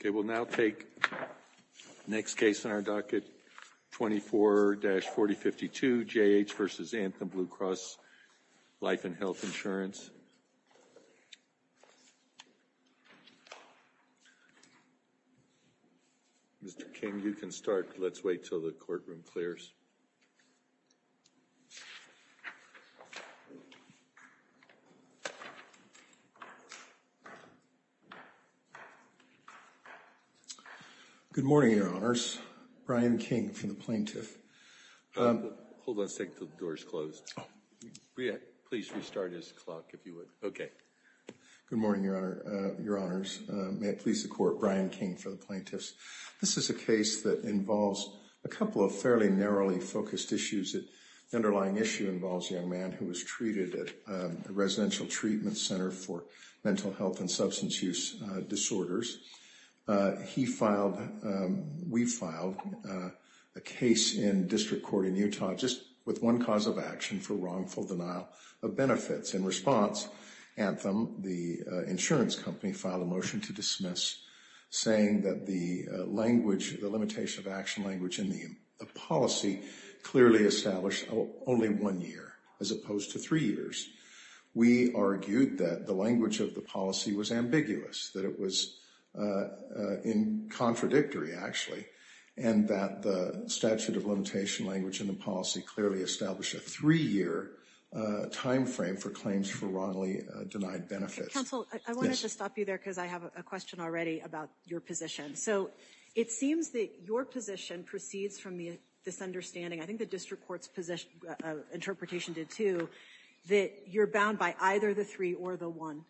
Okay, we'll now take the next case on our docket, 24-4052 J.H. v. Anthem Blue Cross Life and Health Insurance. Mr. King, you can start. Let's wait until the courtroom clears. Good morning, Your Honors. Brian King for the plaintiff. Hold on a second until the door is closed. Please restart his clock if you would. Okay. Good morning, Your Honors. May it please the Court, Brian King for the plaintiffs. This is a case that involves a couple of fairly narrowly focused issues. The underlying issue involves a young man who was treated at the Residential Treatment Center for Mental Health and Substance Use Disorders. He filed, we filed, a case in district court in Utah just with one cause of action for wrongful denial of benefits. In response, Anthem, the insurance company, filed a motion to dismiss saying that the language, the limitation of action language in the policy clearly established only one year as opposed to three years. We argued that the language of the policy was ambiguous, that it was contradictory actually, and that the statute of limitation language in the policy clearly established a three-year time frame for claims for wrongly denied benefits. Counsel, I wanted to stop you there because I have a question already about your position. So it seems that your position proceeds from the misunderstanding, I think the district court's interpretation did too, that you're bound by either the three or the one.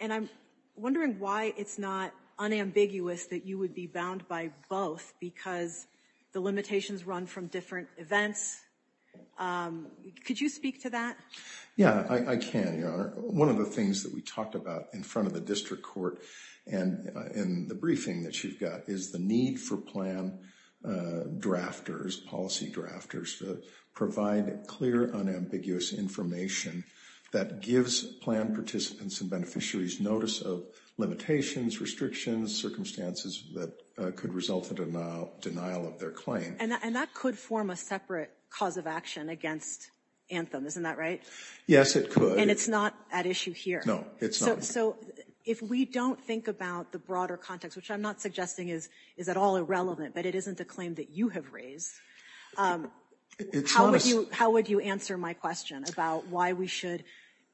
And I'm wondering why it's not unambiguous that you would be bound by both because the limitations run from different events. Could you speak to that? Yeah, I can, Your Honor. One of the things that we talked about in front of the district court and in the briefing that you've got is the need for plan drafters, policy drafters to provide clear, unambiguous information that gives plan participants and beneficiaries notice of limitations, restrictions, circumstances that could result in a denial of their claim. And that could form a separate cause of action against Anthem, isn't that right? Yes, it could. And it's not at issue here. No, it's not. So if we don't think about the broader context, which I'm not suggesting is at all irrelevant, but it isn't a claim that you have raised, how would you answer my question about why we should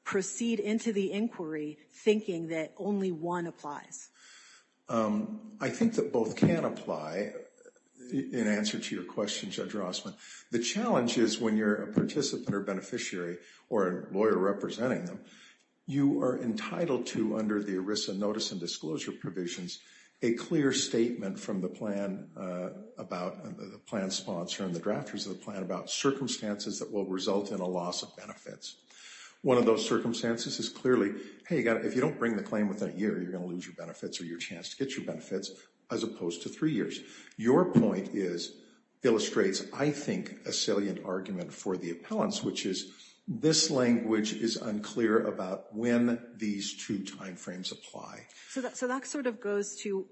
proceed into the inquiry thinking that only one applies? I think that both can apply in answer to your question, Judge Rossman. The challenge is when you're a participant or beneficiary or a lawyer representing them, you are entitled to under the ERISA notice and disclosure provisions a clear statement from the plan about the plan sponsor and the drafters of the plan about circumstances that will result in a loss of benefits. One of those circumstances is clearly, hey, if you don't bring the claim within a year, you're going to lose your benefits or your chance to get your benefits as opposed to three years. Your point illustrates, I think, a salient argument for the appellants, which is this language is unclear about when these two timeframes apply. So that sort of goes to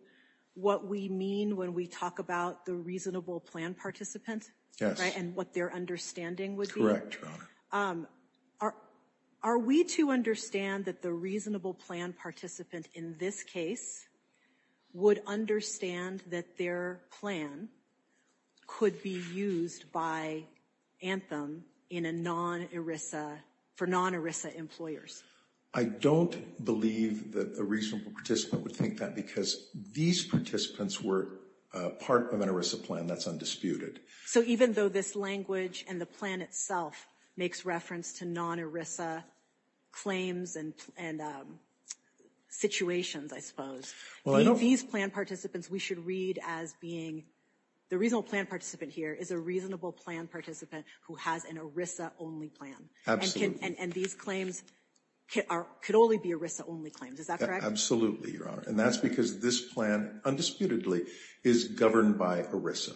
what we mean when we talk about the reasonable plan participant and what their understanding would be? Correct, Your Honor. Are we to understand that the reasonable plan participant in this case would understand that their plan could be used by Anthem in a non-ERISA, for non-ERISA employers? I don't believe that a reasonable participant would think that because these participants were part of an ERISA plan that's undisputed. So even though this language and the plan itself makes reference to non-ERISA claims and situations, I suppose, these plan participants we should read as being the reasonable plan participant here is a reasonable plan participant who has an ERISA-only plan. Absolutely. And these claims could only be ERISA-only claims, is that correct? Absolutely, Your Honor. And that's because this plan, undisputedly, is governed by ERISA.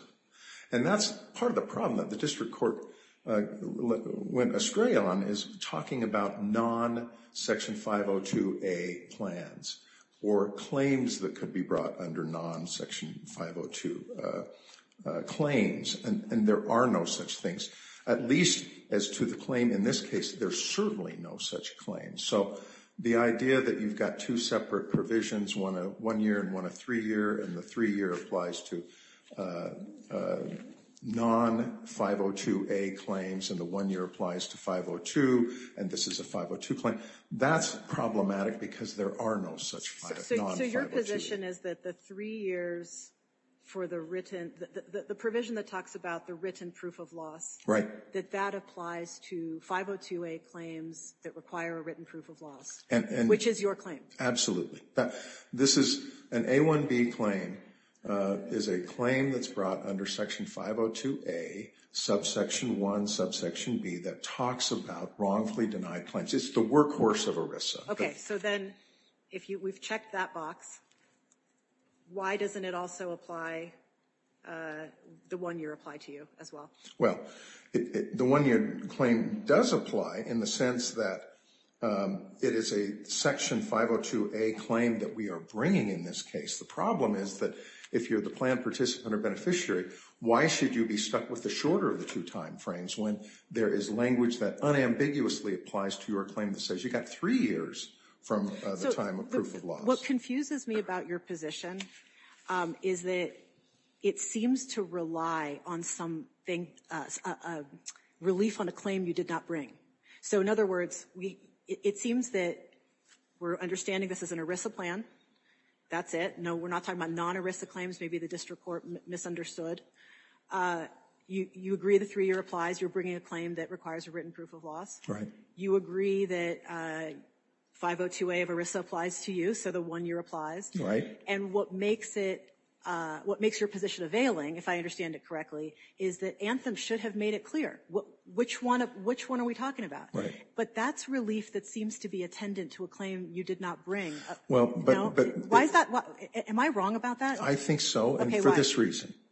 And that's part of the problem that the District Court went astray on is talking about non-Section 502A plans or claims that could be brought under non-Section 502 claims. And there are no such things. At least as to the claim in this case, there's certainly no such claims. So the idea that you've got two separate provisions, one a one-year and one a three-year, and the three-year applies to non-502A claims and the one-year applies to 502 and this is a 502 claim, that's problematic because there are no such non-502. So your position is that the three years for the written, the provision that talks about the written proof of loss, that that applies to 502A claims that require a written proof of loss, which is your claim? Absolutely. This is an A1B claim is a claim that's brought under Section 502A, Subsection 1, Subsection B, that talks about wrongfully denied claims. It's the workhorse of ERISA. Okay. So then we've checked that box. Why doesn't it also apply the one-year apply to you as well? Well, the one-year claim does apply in the sense that it is a Section 502A claim that we are bringing in this case. The problem is that if you're the plan participant or beneficiary, why should you be stuck with the shorter of the two timeframes when there is language that unambiguously applies to your claim that says you've got three years from the time of proof of loss. What confuses me about your position is that it seems to rely on some relief on a claim you did not bring. So in other words, it seems that we're understanding this is an ERISA plan. That's it. No, we're not talking about non-ERISA claims. Maybe the district court misunderstood. You agree the three-year applies. You're bringing a claim that requires a written proof of loss. Right. You agree that 502A of ERISA applies to you, so the one-year applies. And what makes your position availing, if I understand it correctly, is that Anthem should have made it clear. Which one are we talking about? Right. But that's relief that seems to be attendant to a claim you did not bring. Am I wrong about that? I think so, and for this reason. Okay, why?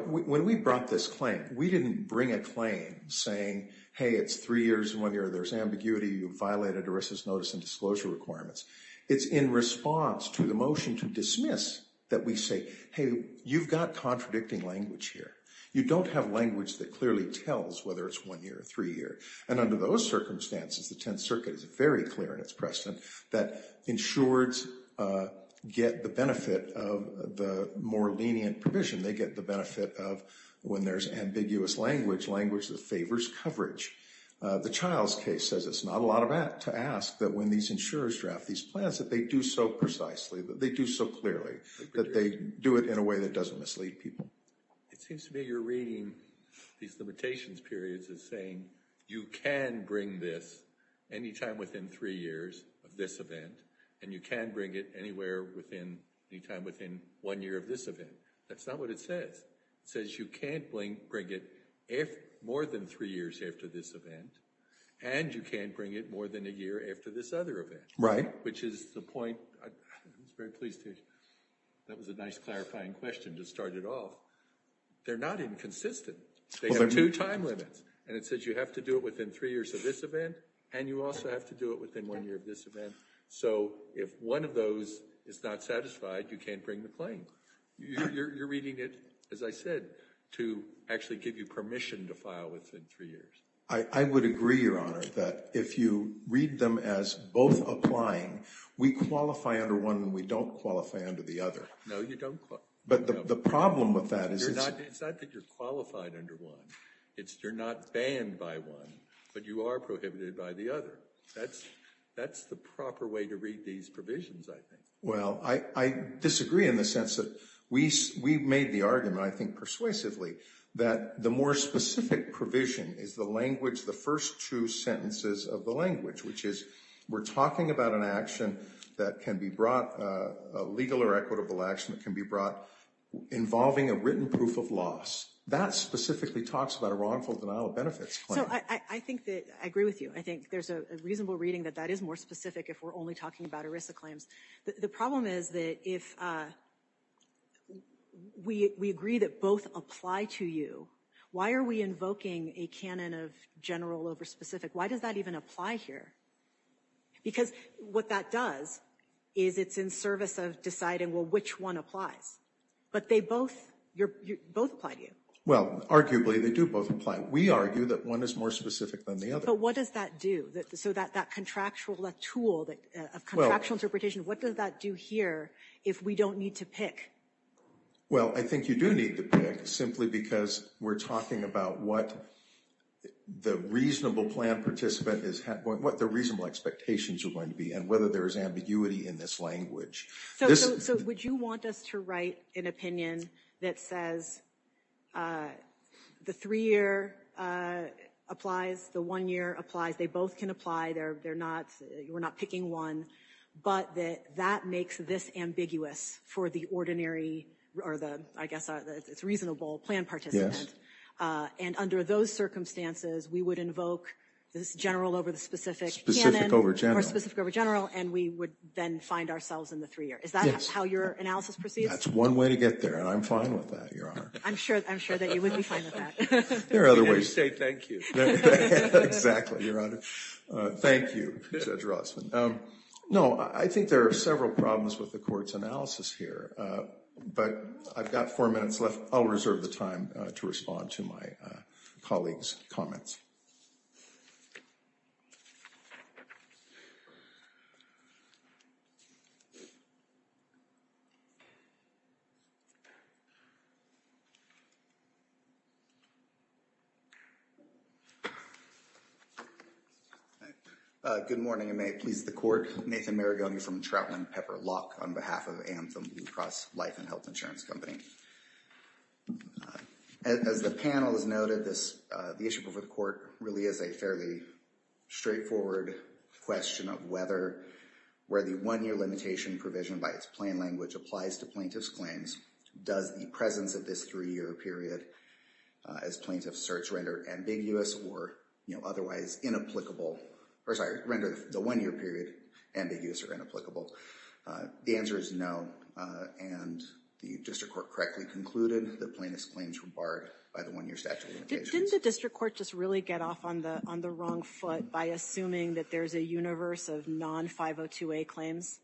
When we brought this claim, we didn't bring a claim saying, hey, it's three years and one year. There's ambiguity. You violated ERISA's notice and disclosure requirements. It's in response to the motion to dismiss that we say, hey, you've got contradicting language here. You don't have language that clearly tells whether it's one year or three years. And under those circumstances, the Tenth Circuit is very clear in its precedent that insureds get the benefit of the more lenient provision. They get the benefit of when there's ambiguous language, language that favors coverage. The Childs case says it's not a lot to ask that when these insurers draft these plans that they do so precisely, that they do so clearly, that they do it in a way that doesn't mislead people. It seems to me you're reading these limitations periods as saying you can bring this any time within three years of this event, and you can bring it any time within one year of this event. That's not what it says. It says you can't bring it more than three years after this event, and you can't bring it more than a year after this other event, which is the point. I was very pleased to hear that was a nice clarifying question to start it off. They're not inconsistent. They have two time limits, and it says you have to do it within three years of this event, and you also have to do it within one year of this event. So if one of those is not satisfied, you can't bring the claim. You're reading it, as I said, to actually give you permission to file within three years. I would agree, Your Honor, that if you read them as both applying, we qualify under one and we don't qualify under the other. No, you don't. But the problem with that is it's not that you're qualified under one. It's you're not banned by one, but you are prohibited by the other. That's the proper way to read these provisions, I think. Well, I disagree in the sense that we made the argument, I think persuasively, that the more specific provision is the language, the first two sentences of the language, which is we're talking about an action that can be brought, a legal or equitable action that can be brought involving a written proof of loss. That specifically talks about a wrongful denial of benefits claim. So I think that I agree with you. I think there's a reasonable reading that that is more specific if we're only talking about ERISA claims. The problem is that if we agree that both apply to you, why are we invoking a canon of general over specific? Why does that even apply here? Because what that does is it's in service of deciding, well, which one applies. But they both apply to you. Well, arguably, they do both apply. We argue that one is more specific than the other. But what does that do? So that contractual tool of contractual interpretation, what does that do here if we don't need to pick? Well, I think you do need to pick simply because we're talking about what the reasonable plan participant is, what the reasonable expectations are going to be and whether there is ambiguity in this language. So would you want us to write an opinion that says the three-year applies, the one-year applies, they both can apply, we're not picking one, but that that makes this ambiguous for the ordinary or the, I guess, it's reasonable plan participant. And under those circumstances, we would invoke this general over the specific canon. Specific over general. More specific over general, and we would then find ourselves in the three-year. Is that how your analysis proceeds? That's one way to get there, and I'm fine with that, Your Honor. I'm sure that you would be fine with that. There are other ways. You can't just say thank you. Exactly, Your Honor. Thank you, Judge Rossman. No, I think there are several problems with the court's analysis here, but I've got four minutes left. I'll reserve the time to respond to my colleague's comments. All right. Good morning, and may it please the court. Nathan Maragoni from Troutland Pepper Lock on behalf of Anthem Blue Cross Life and Health Insurance Company. As the panel has noted, the issue before the court really is a fairly straightforward question of whether, where the one-year limitation provision by its plain language applies to plaintiff's claims, does the presence of this three-year period as plaintiff's search render ambiguous or otherwise inapplicable, or sorry, render the one-year period ambiguous or inapplicable? The answer is no, and the district court correctly concluded that plaintiff's claims were barred by the one-year statute of limitations. Didn't the district court just really get off on the wrong foot by assuming that there's a universe of non-502A claims?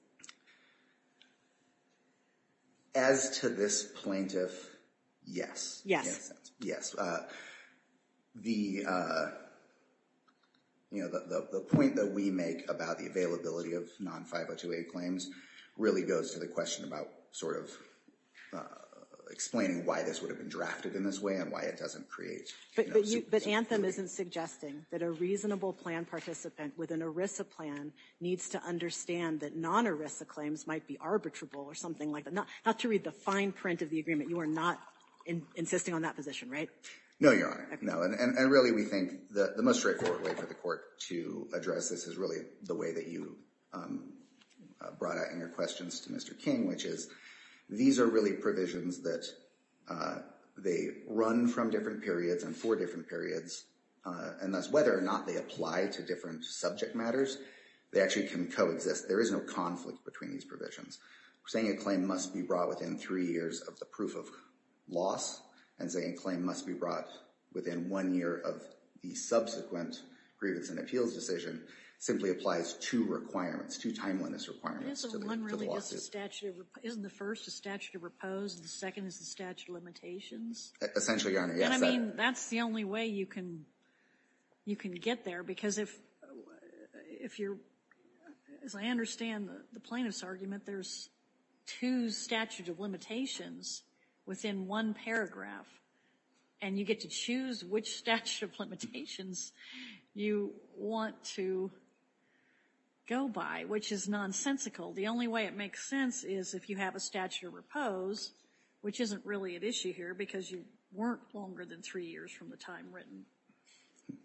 As to this plaintiff, yes. Yes. Yes. The, you know, the point that we make about the availability of non-502A claims really goes to the question about sort of explaining why this would have been drafted in this way and why it doesn't create, you know, But Anthem isn't suggesting that a reasonable plan participant with an ERISA plan needs to understand that non-ERISA claims might be arbitrable or something like that. Not to read the fine print of the agreement, you are not insisting on that position, right? No, Your Honor. No. And really, we think the most straightforward way for the court to address this is really the way that you brought out in your questions to Mr. King, which is these are really provisions that they run from different periods and for different periods, and thus whether or not they apply to different subject matters, they actually can coexist. There is no conflict between these provisions. Saying a claim must be brought within three years of the proof of loss and saying a claim must be brought within one year of the subsequent grievance and appeals decision simply applies two requirements, two timeliness requirements to the lawsuit. Isn't the first a statute of repose and the second is the statute of limitations? Essentially, Your Honor, yes. And I mean, that's the only way you can get there because if you're, as I understand the plaintiff's argument, there's two statutes of limitations within one paragraph, and you get to choose which statute of limitations you want to go by, which is nonsensical. The only way it makes sense is if you have a statute of repose, which isn't really an issue here because you weren't longer than three years from the time written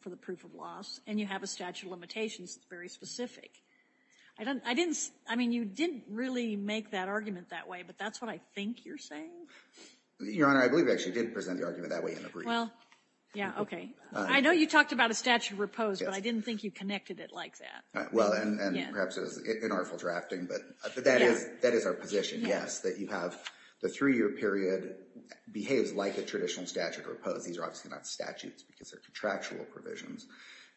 for the proof of loss, and you have a statute of limitations that's very specific. I didn't, I mean, you didn't really make that argument that way, but that's what I think you're saying? Your Honor, I believe I actually did present the argument that way in a brief. Well, yeah, okay. I know you talked about a statute of repose, but I didn't think you connected it like that. Well, and perhaps it was inartful drafting, but that is our position, yes, that you have the three-year period behaves like a traditional statute of repose. These are obviously not statutes because they're contractual provisions,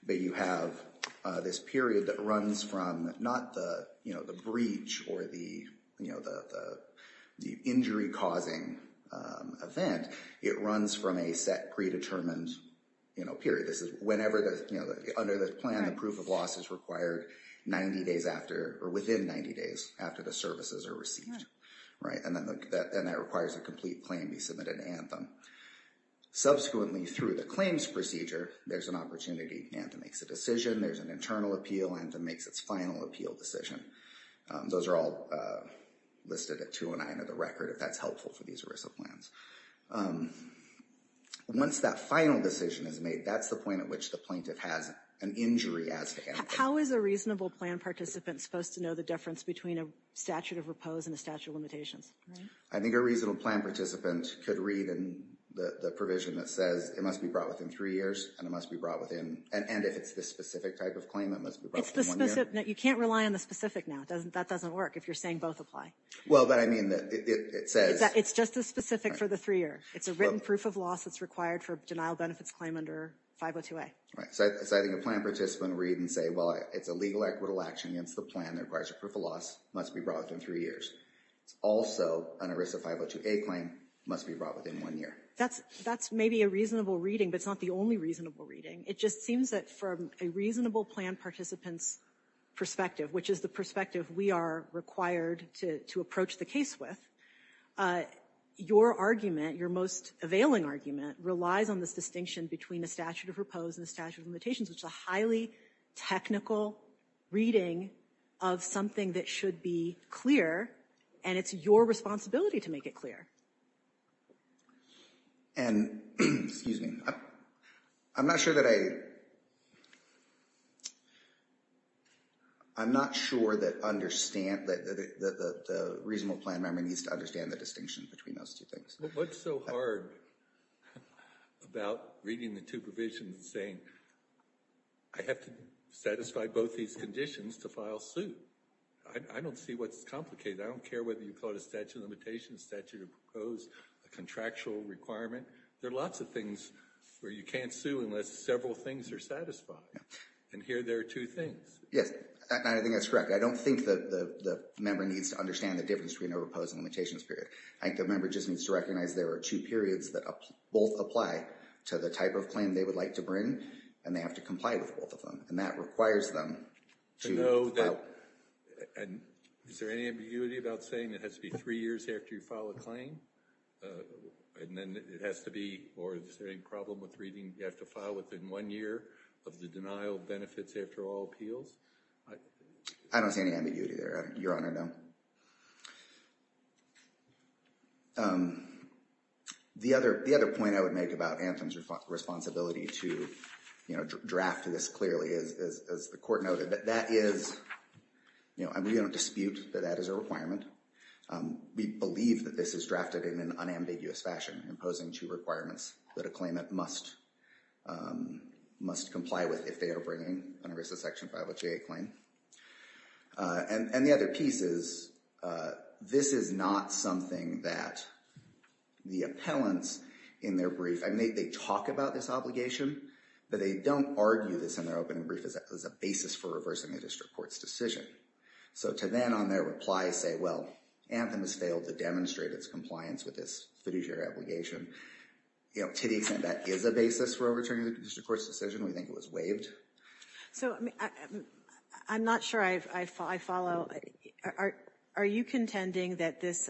but you have this period that runs from not the, you know, the breach or the, you know, the injury-causing event. It runs from a set predetermined, you know, period. This is whenever the, you know, under the plan, the proof of loss is required 90 days after or within 90 days after the services are received, right, and that requires a complete claim be submitted to Anthem. Subsequently, through the claims procedure, there's an opportunity. Anthem makes a decision. There's an internal appeal. Anthem makes its final appeal decision. Those are all listed at 209 of the record if that's helpful for these ERISA plans. Once that final decision is made, that's the point at which the plaintiff has an injury as to Anthem. How is a reasonable plan participant supposed to know the difference between a statute of repose and a statute of limitations? I think a reasonable plan participant could read the provision that says it must be brought within three years, and it must be brought within, and if it's the specific type of claim, it must be brought within one year. It's the specific. You can't rely on the specific now. That doesn't work if you're saying both apply. Well, but I mean, it says. It's just as specific for the three-year. It's a written proof of loss that's required for a denial benefits claim under 502A. Right. So I think a plan participant would read and say, well, it's a legal equitable action against the plan that requires a proof of loss. It must be brought within three years. Also, an ERISA 502A claim must be brought within one year. That's maybe a reasonable reading, but it's not the only reasonable reading. It just seems that from a reasonable plan participant's perspective, which is the perspective we are required to approach the case with, your argument, your most availing argument, relies on this distinction between a statute of repose and a statute of limitations, which is a highly technical reading of something that should be clear, and it's your responsibility to make it clear. And, excuse me, I'm not sure that I'm not sure that the reasonable plan member needs to understand the distinction between those two things. What's so hard about reading the two provisions and saying, I have to satisfy both these conditions to file suit? I don't see what's complicated. I don't care whether you call it a statute of limitations, statute of repose, a contractual requirement. There are lots of things where you can't sue unless several things are satisfied, and here there are two things. Yes, I think that's correct. I don't think the member needs to understand the difference between a repose and limitations period. I think the member just needs to recognize there are two periods that both apply to the type of claim they would like to bring, and they have to comply with both of them, and that requires them to file. Is there any ambiguity about saying it has to be three years after you file a claim? And then it has to be, or is there any problem with reading you have to file within one year of the denial of benefits after all appeals? I don't see any ambiguity there, Your Honor, no. The other point I would make about Anthem's responsibility to draft this clearly is, as the court noted, that that is, you know, we don't dispute that that is a requirement. We believe that this is drafted in an unambiguous fashion, imposing two requirements that a claimant must comply with if they are bringing an ERISA Section 508 claim. And the other piece is, this is not something that the appellants in their brief, I mean, they talk about this obligation, but they don't argue this in their opening brief as a basis for reversing the district court's decision. So to then on their reply say, well, Anthem has failed to demonstrate its compliance with this fiduciary obligation, you know, to the extent that is a basis for overturning the district court's decision, we think it was waived. So I'm not sure I follow. Are you contending that this,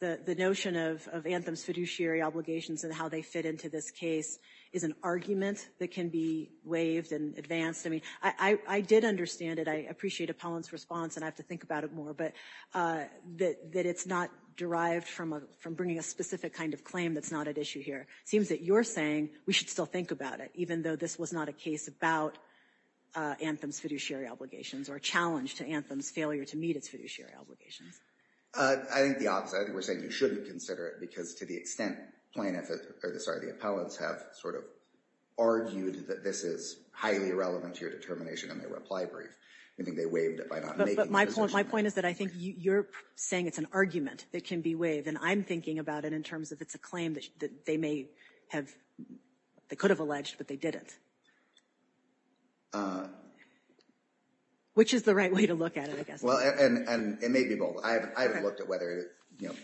the notion of Anthem's fiduciary obligations and how they fit into this case is an argument that can be waived and advanced? I mean, I did understand it. I appreciate appellant's response, and I have to think about it more, but that it's not derived from bringing a specific kind of claim that's not at issue here. It seems that you're saying we should still think about it, even though this was not a case about Anthem's fiduciary obligations or a challenge to Anthem's failure to meet its fiduciary obligations. I think the opposite. I think we're saying you shouldn't consider it because to the extent plaintiff, or sorry, the appellants have sort of argued that this is highly relevant to your determination in their reply brief. I think they waived it by not making the decision. But my point is that I think you're saying it's an argument that can be waived, and I'm thinking about it in terms of it's a claim that they may have, they could have alleged, but they didn't. Which is the right way to look at it, I guess. Well, and it may be both. I haven't looked at whether, you know,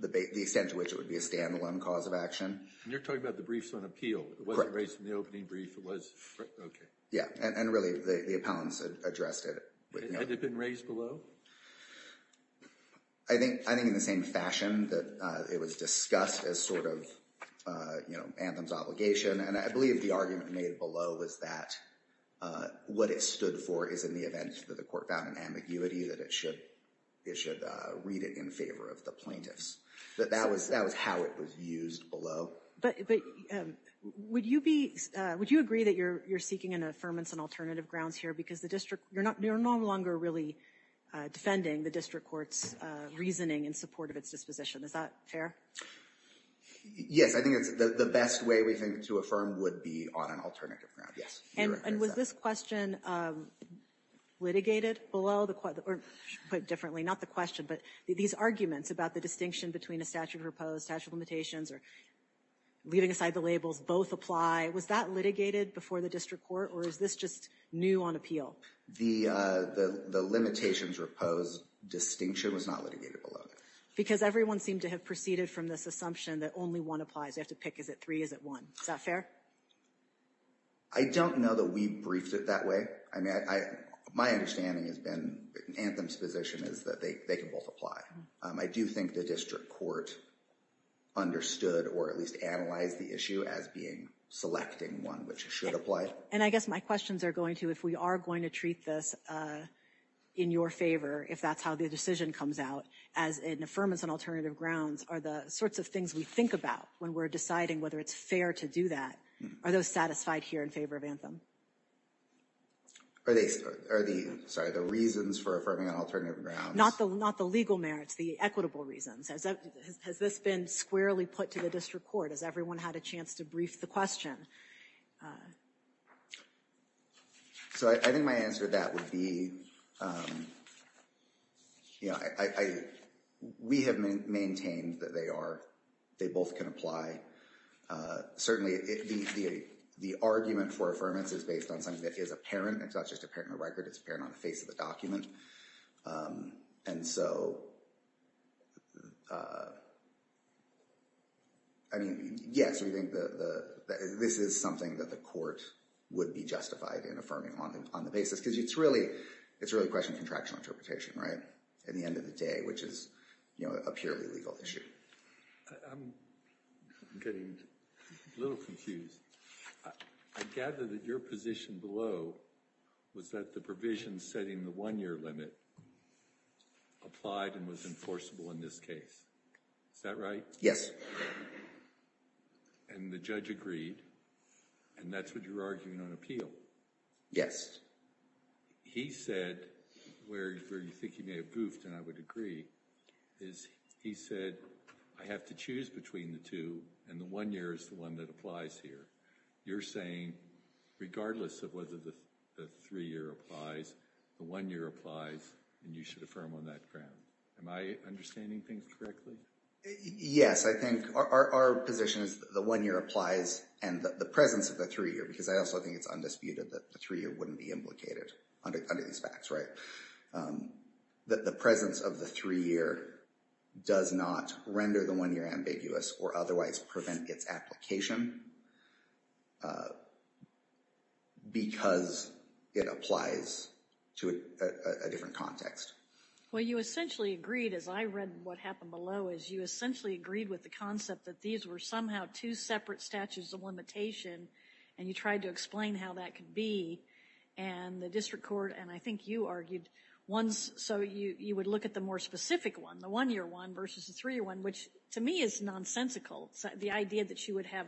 the extent to which it would be a stand-alone cause of action. You're talking about the briefs on appeal. Correct. It wasn't raised in the opening brief. It was, okay. Yeah, and really the appellants addressed it. Had it been raised below? I think in the same fashion that it was discussed as sort of, you know, Anthem's obligation. And I believe the argument made below was that what it stood for is in the event that the court found an ambiguity, that it should read it in favor of the plaintiffs. But that was how it was used below. But would you agree that you're seeking an affirmance on alternative grounds here because the district, you're no longer really defending the district court's reasoning in support of its disposition. Is that fair? Yes, I think it's the best way we think to affirm would be on an alternative ground, yes. And was this question litigated below, or put differently, not the question, but these arguments about the distinction between a statute of repose, statute of limitations, or leaving aside the labels, both apply. Was that litigated before the district court, or is this just new on appeal? The limitations repose distinction was not litigated below. Because everyone seemed to have proceeded from this assumption that only one applies. You have to pick, is it three, is it one? Is that fair? I don't know that we briefed it that way. My understanding has been, Anthem's position is that they can both apply. I do think the district court understood or at least analyzed the issue as being selecting one which should apply. And I guess my questions are going to, if we are going to treat this in your favor, if that's how the decision comes out, as an affirmance on alternative grounds, are the sorts of things we think about when we're deciding whether it's fair to do that, are those satisfied here in favor of Anthem? Are the reasons for affirming on alternative grounds? Not the legal merits, the equitable reasons. Has this been squarely put to the district court? Has everyone had a chance to brief the question? So I think my answer to that would be, we have maintained that they both can apply. Certainly, the argument for affirmance is based on something that is apparent. It's not just apparent in the record. It's apparent on the face of the document. And so, I mean, yes, we think this is something that the court would be justified in affirming on the basis. Because it's really a question of contractual interpretation, right, at the end of the day, which is a purely legal issue. I'm getting a little confused. I gather that your position below was that the provision setting the one-year limit applied and was enforceable in this case. Is that right? Yes. And the judge agreed, and that's what you're arguing on appeal? Yes. He said, where you think he may have goofed, and I would agree, is he said, I have to choose between the two, and the one-year is the one that applies here. You're saying, regardless of whether the three-year applies, the one-year applies, and you should affirm on that ground. Am I understanding things correctly? Yes, I think our position is the one-year applies and the presence of the three-year, because I also think it's undisputed that the three-year wouldn't be implicated under these facts, right? That the presence of the three-year does not render the one-year ambiguous or otherwise prevent its application, because it applies to a different context. Well, you essentially agreed, as I read what happened below, is you essentially agreed with the concept that these were somehow two separate statutes of limitation, and you tried to explain how that could be, and the district court, and I think you argued, so you would look at the more specific one, the one-year one versus the three-year one, which to me is nonsensical, the idea that you would have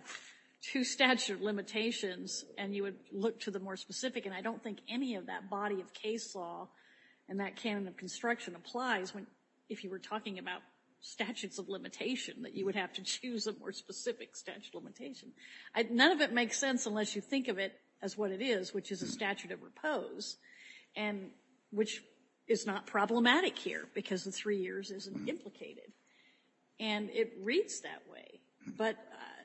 two statute of limitations, and you would look to the more specific, and I don't think any of that body of case law and that canon of construction applies if you were talking about statutes of limitation, that you would have to choose a more specific statute of limitation. None of it makes sense unless you think of it as what it is, which is a statute of repose, and which is not problematic here, because the three years isn't implicated. And it reads that way, but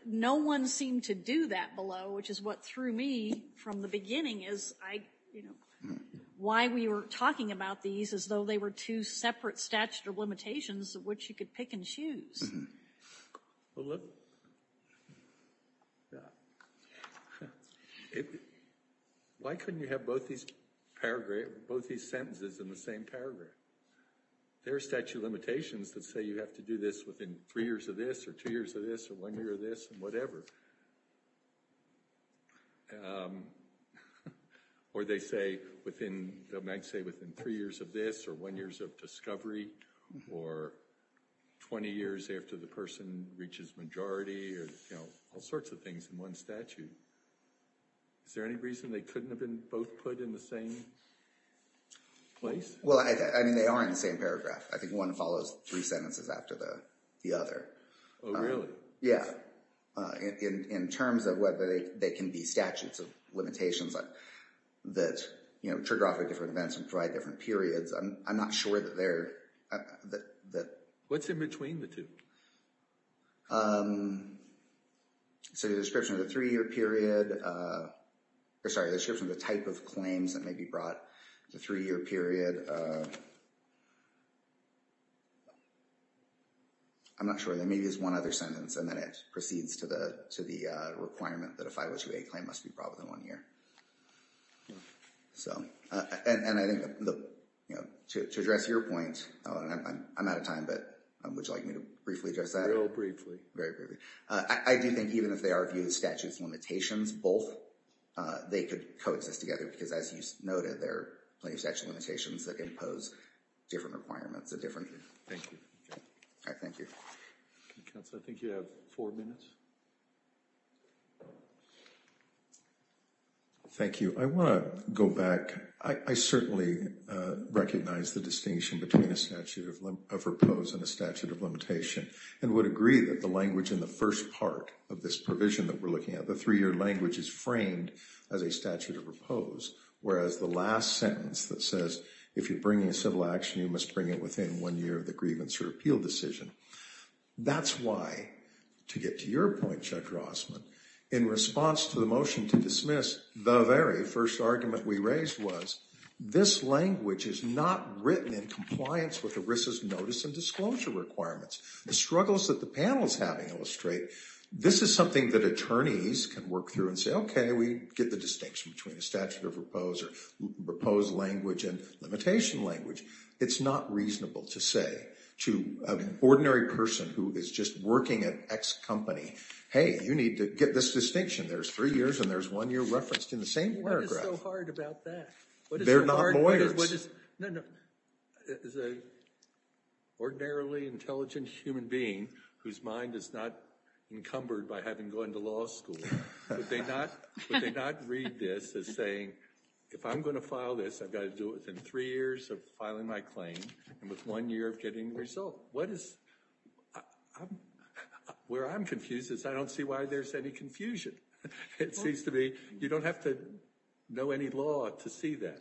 no one seemed to do that below, which is what threw me from the beginning as I, you know, why we were talking about these as though they were two separate statute of limitations which you could pick and choose. Well, look, why couldn't you have both these sentences in the same paragraph? There are statute of limitations that say you have to do this within three years of this, or two years of this, or one year of this, and whatever. Or they say within, they might say within three years of this, or one year of discovery, or 20 years after the person reaches majority, or, you know, all sorts of things in one statute. Is there any reason they couldn't have been both put in the same place? Well, I mean, they are in the same paragraph. I think one follows three sentences after the other. Oh, really? Yeah. In terms of whether they can be statutes of limitations that, you know, What's in between the two? So the description of the three-year period, or sorry, the description of the type of claims that may be brought to a three-year period. I'm not sure. Maybe there's one other sentence, and then it proceeds to the requirement that a 502A claim must be brought within one year. Yeah. So, and I think, you know, to address your point, I'm out of time, but would you like me to briefly address that? Real briefly. Very briefly. I do think even if they are viewed as statutes of limitations, both, they could coexist together because, as you noted, there are plenty of statute of limitations that impose different requirements at different years. Thank you. All right, thank you. Counsel, I think you have four minutes. Thank you. I want to go back. I certainly recognize the distinction between a statute of repose and a statute of limitation, and would agree that the language in the first part of this provision that we're looking at, the three-year language is framed as a statute of repose, whereas the last sentence that says if you're bringing a civil action, you must bring it within one year of the grievance or appeal decision. That's why, to get to your point, Judge Rossman, in response to the motion to dismiss, the very first argument we raised was, this language is not written in compliance with ERISA's notice and disclosure requirements. The struggles that the panel is having illustrate this is something that attorneys can work through and say, okay, we get the distinction between the statute of repose or repose language and limitation language. It's not reasonable to say to an ordinary person who is just working at X company, hey, you need to get this distinction. There's three years and there's one year referenced in the same paragraph. What is so hard about that? They're not lawyers. No, no. As an ordinarily intelligent human being whose mind is not encumbered by having gone to law school, would they not read this as saying, if I'm going to file this, I've got to do it within three years of filing my claim and with one year of getting the result. What is, where I'm confused is I don't see why there's any confusion. It seems to me you don't have to know any law to see that.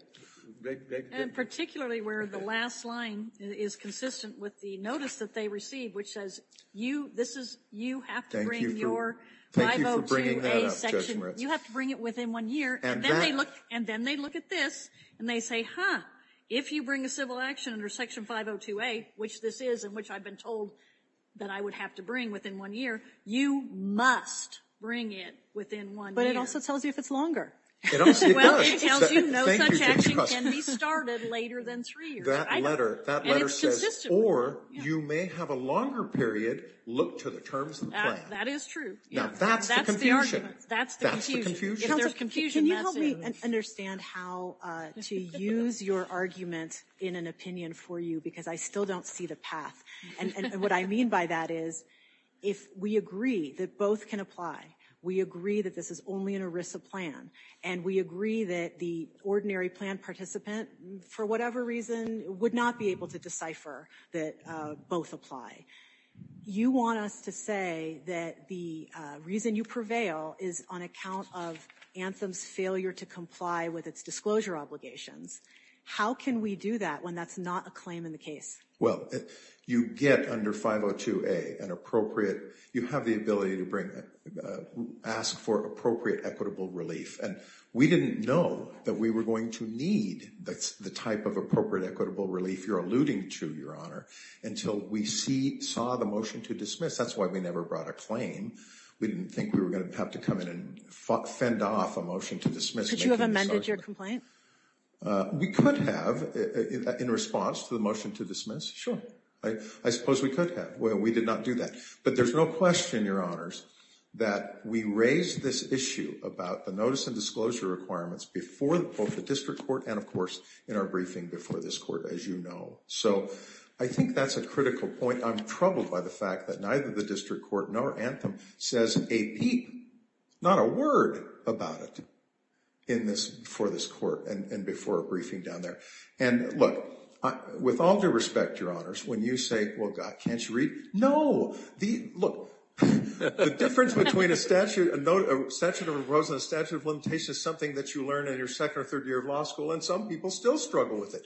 And particularly where the last line is consistent with the notice that they received, which says you, this is, you have to bring your 502A section. You have to bring it within one year. And then they look at this and they say, huh, if you bring a civil action under Section 502A, which this is and which I've been told that I would have to bring within one year, you must bring it within one year. But it also tells you if it's longer. It does. Well, it tells you no such action can be started later than three years. And that letter, that letter says, or you may have a longer period, look to the terms of the plan. That is true. Now, that's the confusion. That's the confusion. That's the confusion. Can you help me understand how to use your argument in an opinion for you? Because I still don't see the path. And what I mean by that is if we agree that both can apply, we agree that this is only an ERISA plan, and we agree that the ordinary plan participant, for whatever reason, would not be able to decipher that both apply. You want us to say that the reason you prevail is on account of Anthem's failure to comply with its disclosure obligations. How can we do that when that's not a claim in the case? Well, you get under 502A an appropriate, you have the ability to bring, ask for appropriate equitable relief. And we didn't know that we were going to need the type of appropriate equitable relief you're alluding to, Your Honor, until we saw the motion to dismiss. That's why we never brought a claim. We didn't think we were going to have to come in and fend off a motion to dismiss. Could you have amended your complaint? We could have in response to the motion to dismiss. Sure. I suppose we could have. We did not do that. But there's no question, Your Honors, that we raised this issue about the notice and disclosure requirements before both the district court and, of course, in our briefing before this court, as you know. So I think that's a critical point. I'm troubled by the fact that neither the district court nor Anthem says a peep, not a word about it, in this, before this court and before a briefing down there. And, look, with all due respect, Your Honors, when you say, well, God, can't you read? No. Look, the difference between a statute of limitations is something that you learn in your second or third year of law school, and some people still struggle with it.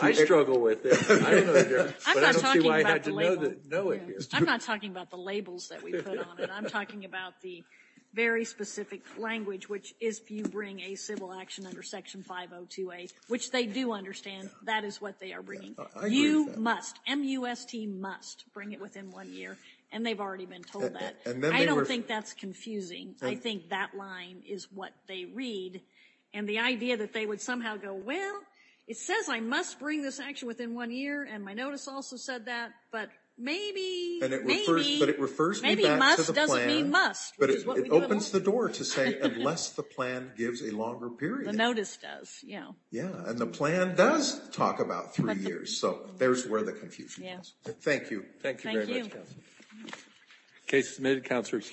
I struggle with it. I don't know the difference, but I don't see why I had to know it here. I'm not talking about the labels that we put on it. I'm talking about the very specific language, which is if you bring a civil action under Section 502A, which they do understand that is what they are bringing. You must, M-U-S-T, must bring it within one year, and they've already been told that. I don't think that's confusing. I think that line is what they read. And the idea that they would somehow go, well, it says I must bring this action within one year, and my notice also said that, but maybe, maybe, maybe must doesn't mean must. But it opens the door to say, unless the plan gives a longer period. The notice does, yeah. Yeah, and the plan does talk about three years, so there's where the confusion is. Yeah. Thank you. Thank you very much, Counsel. Thank you. Case submitted. Counselor, excuse me.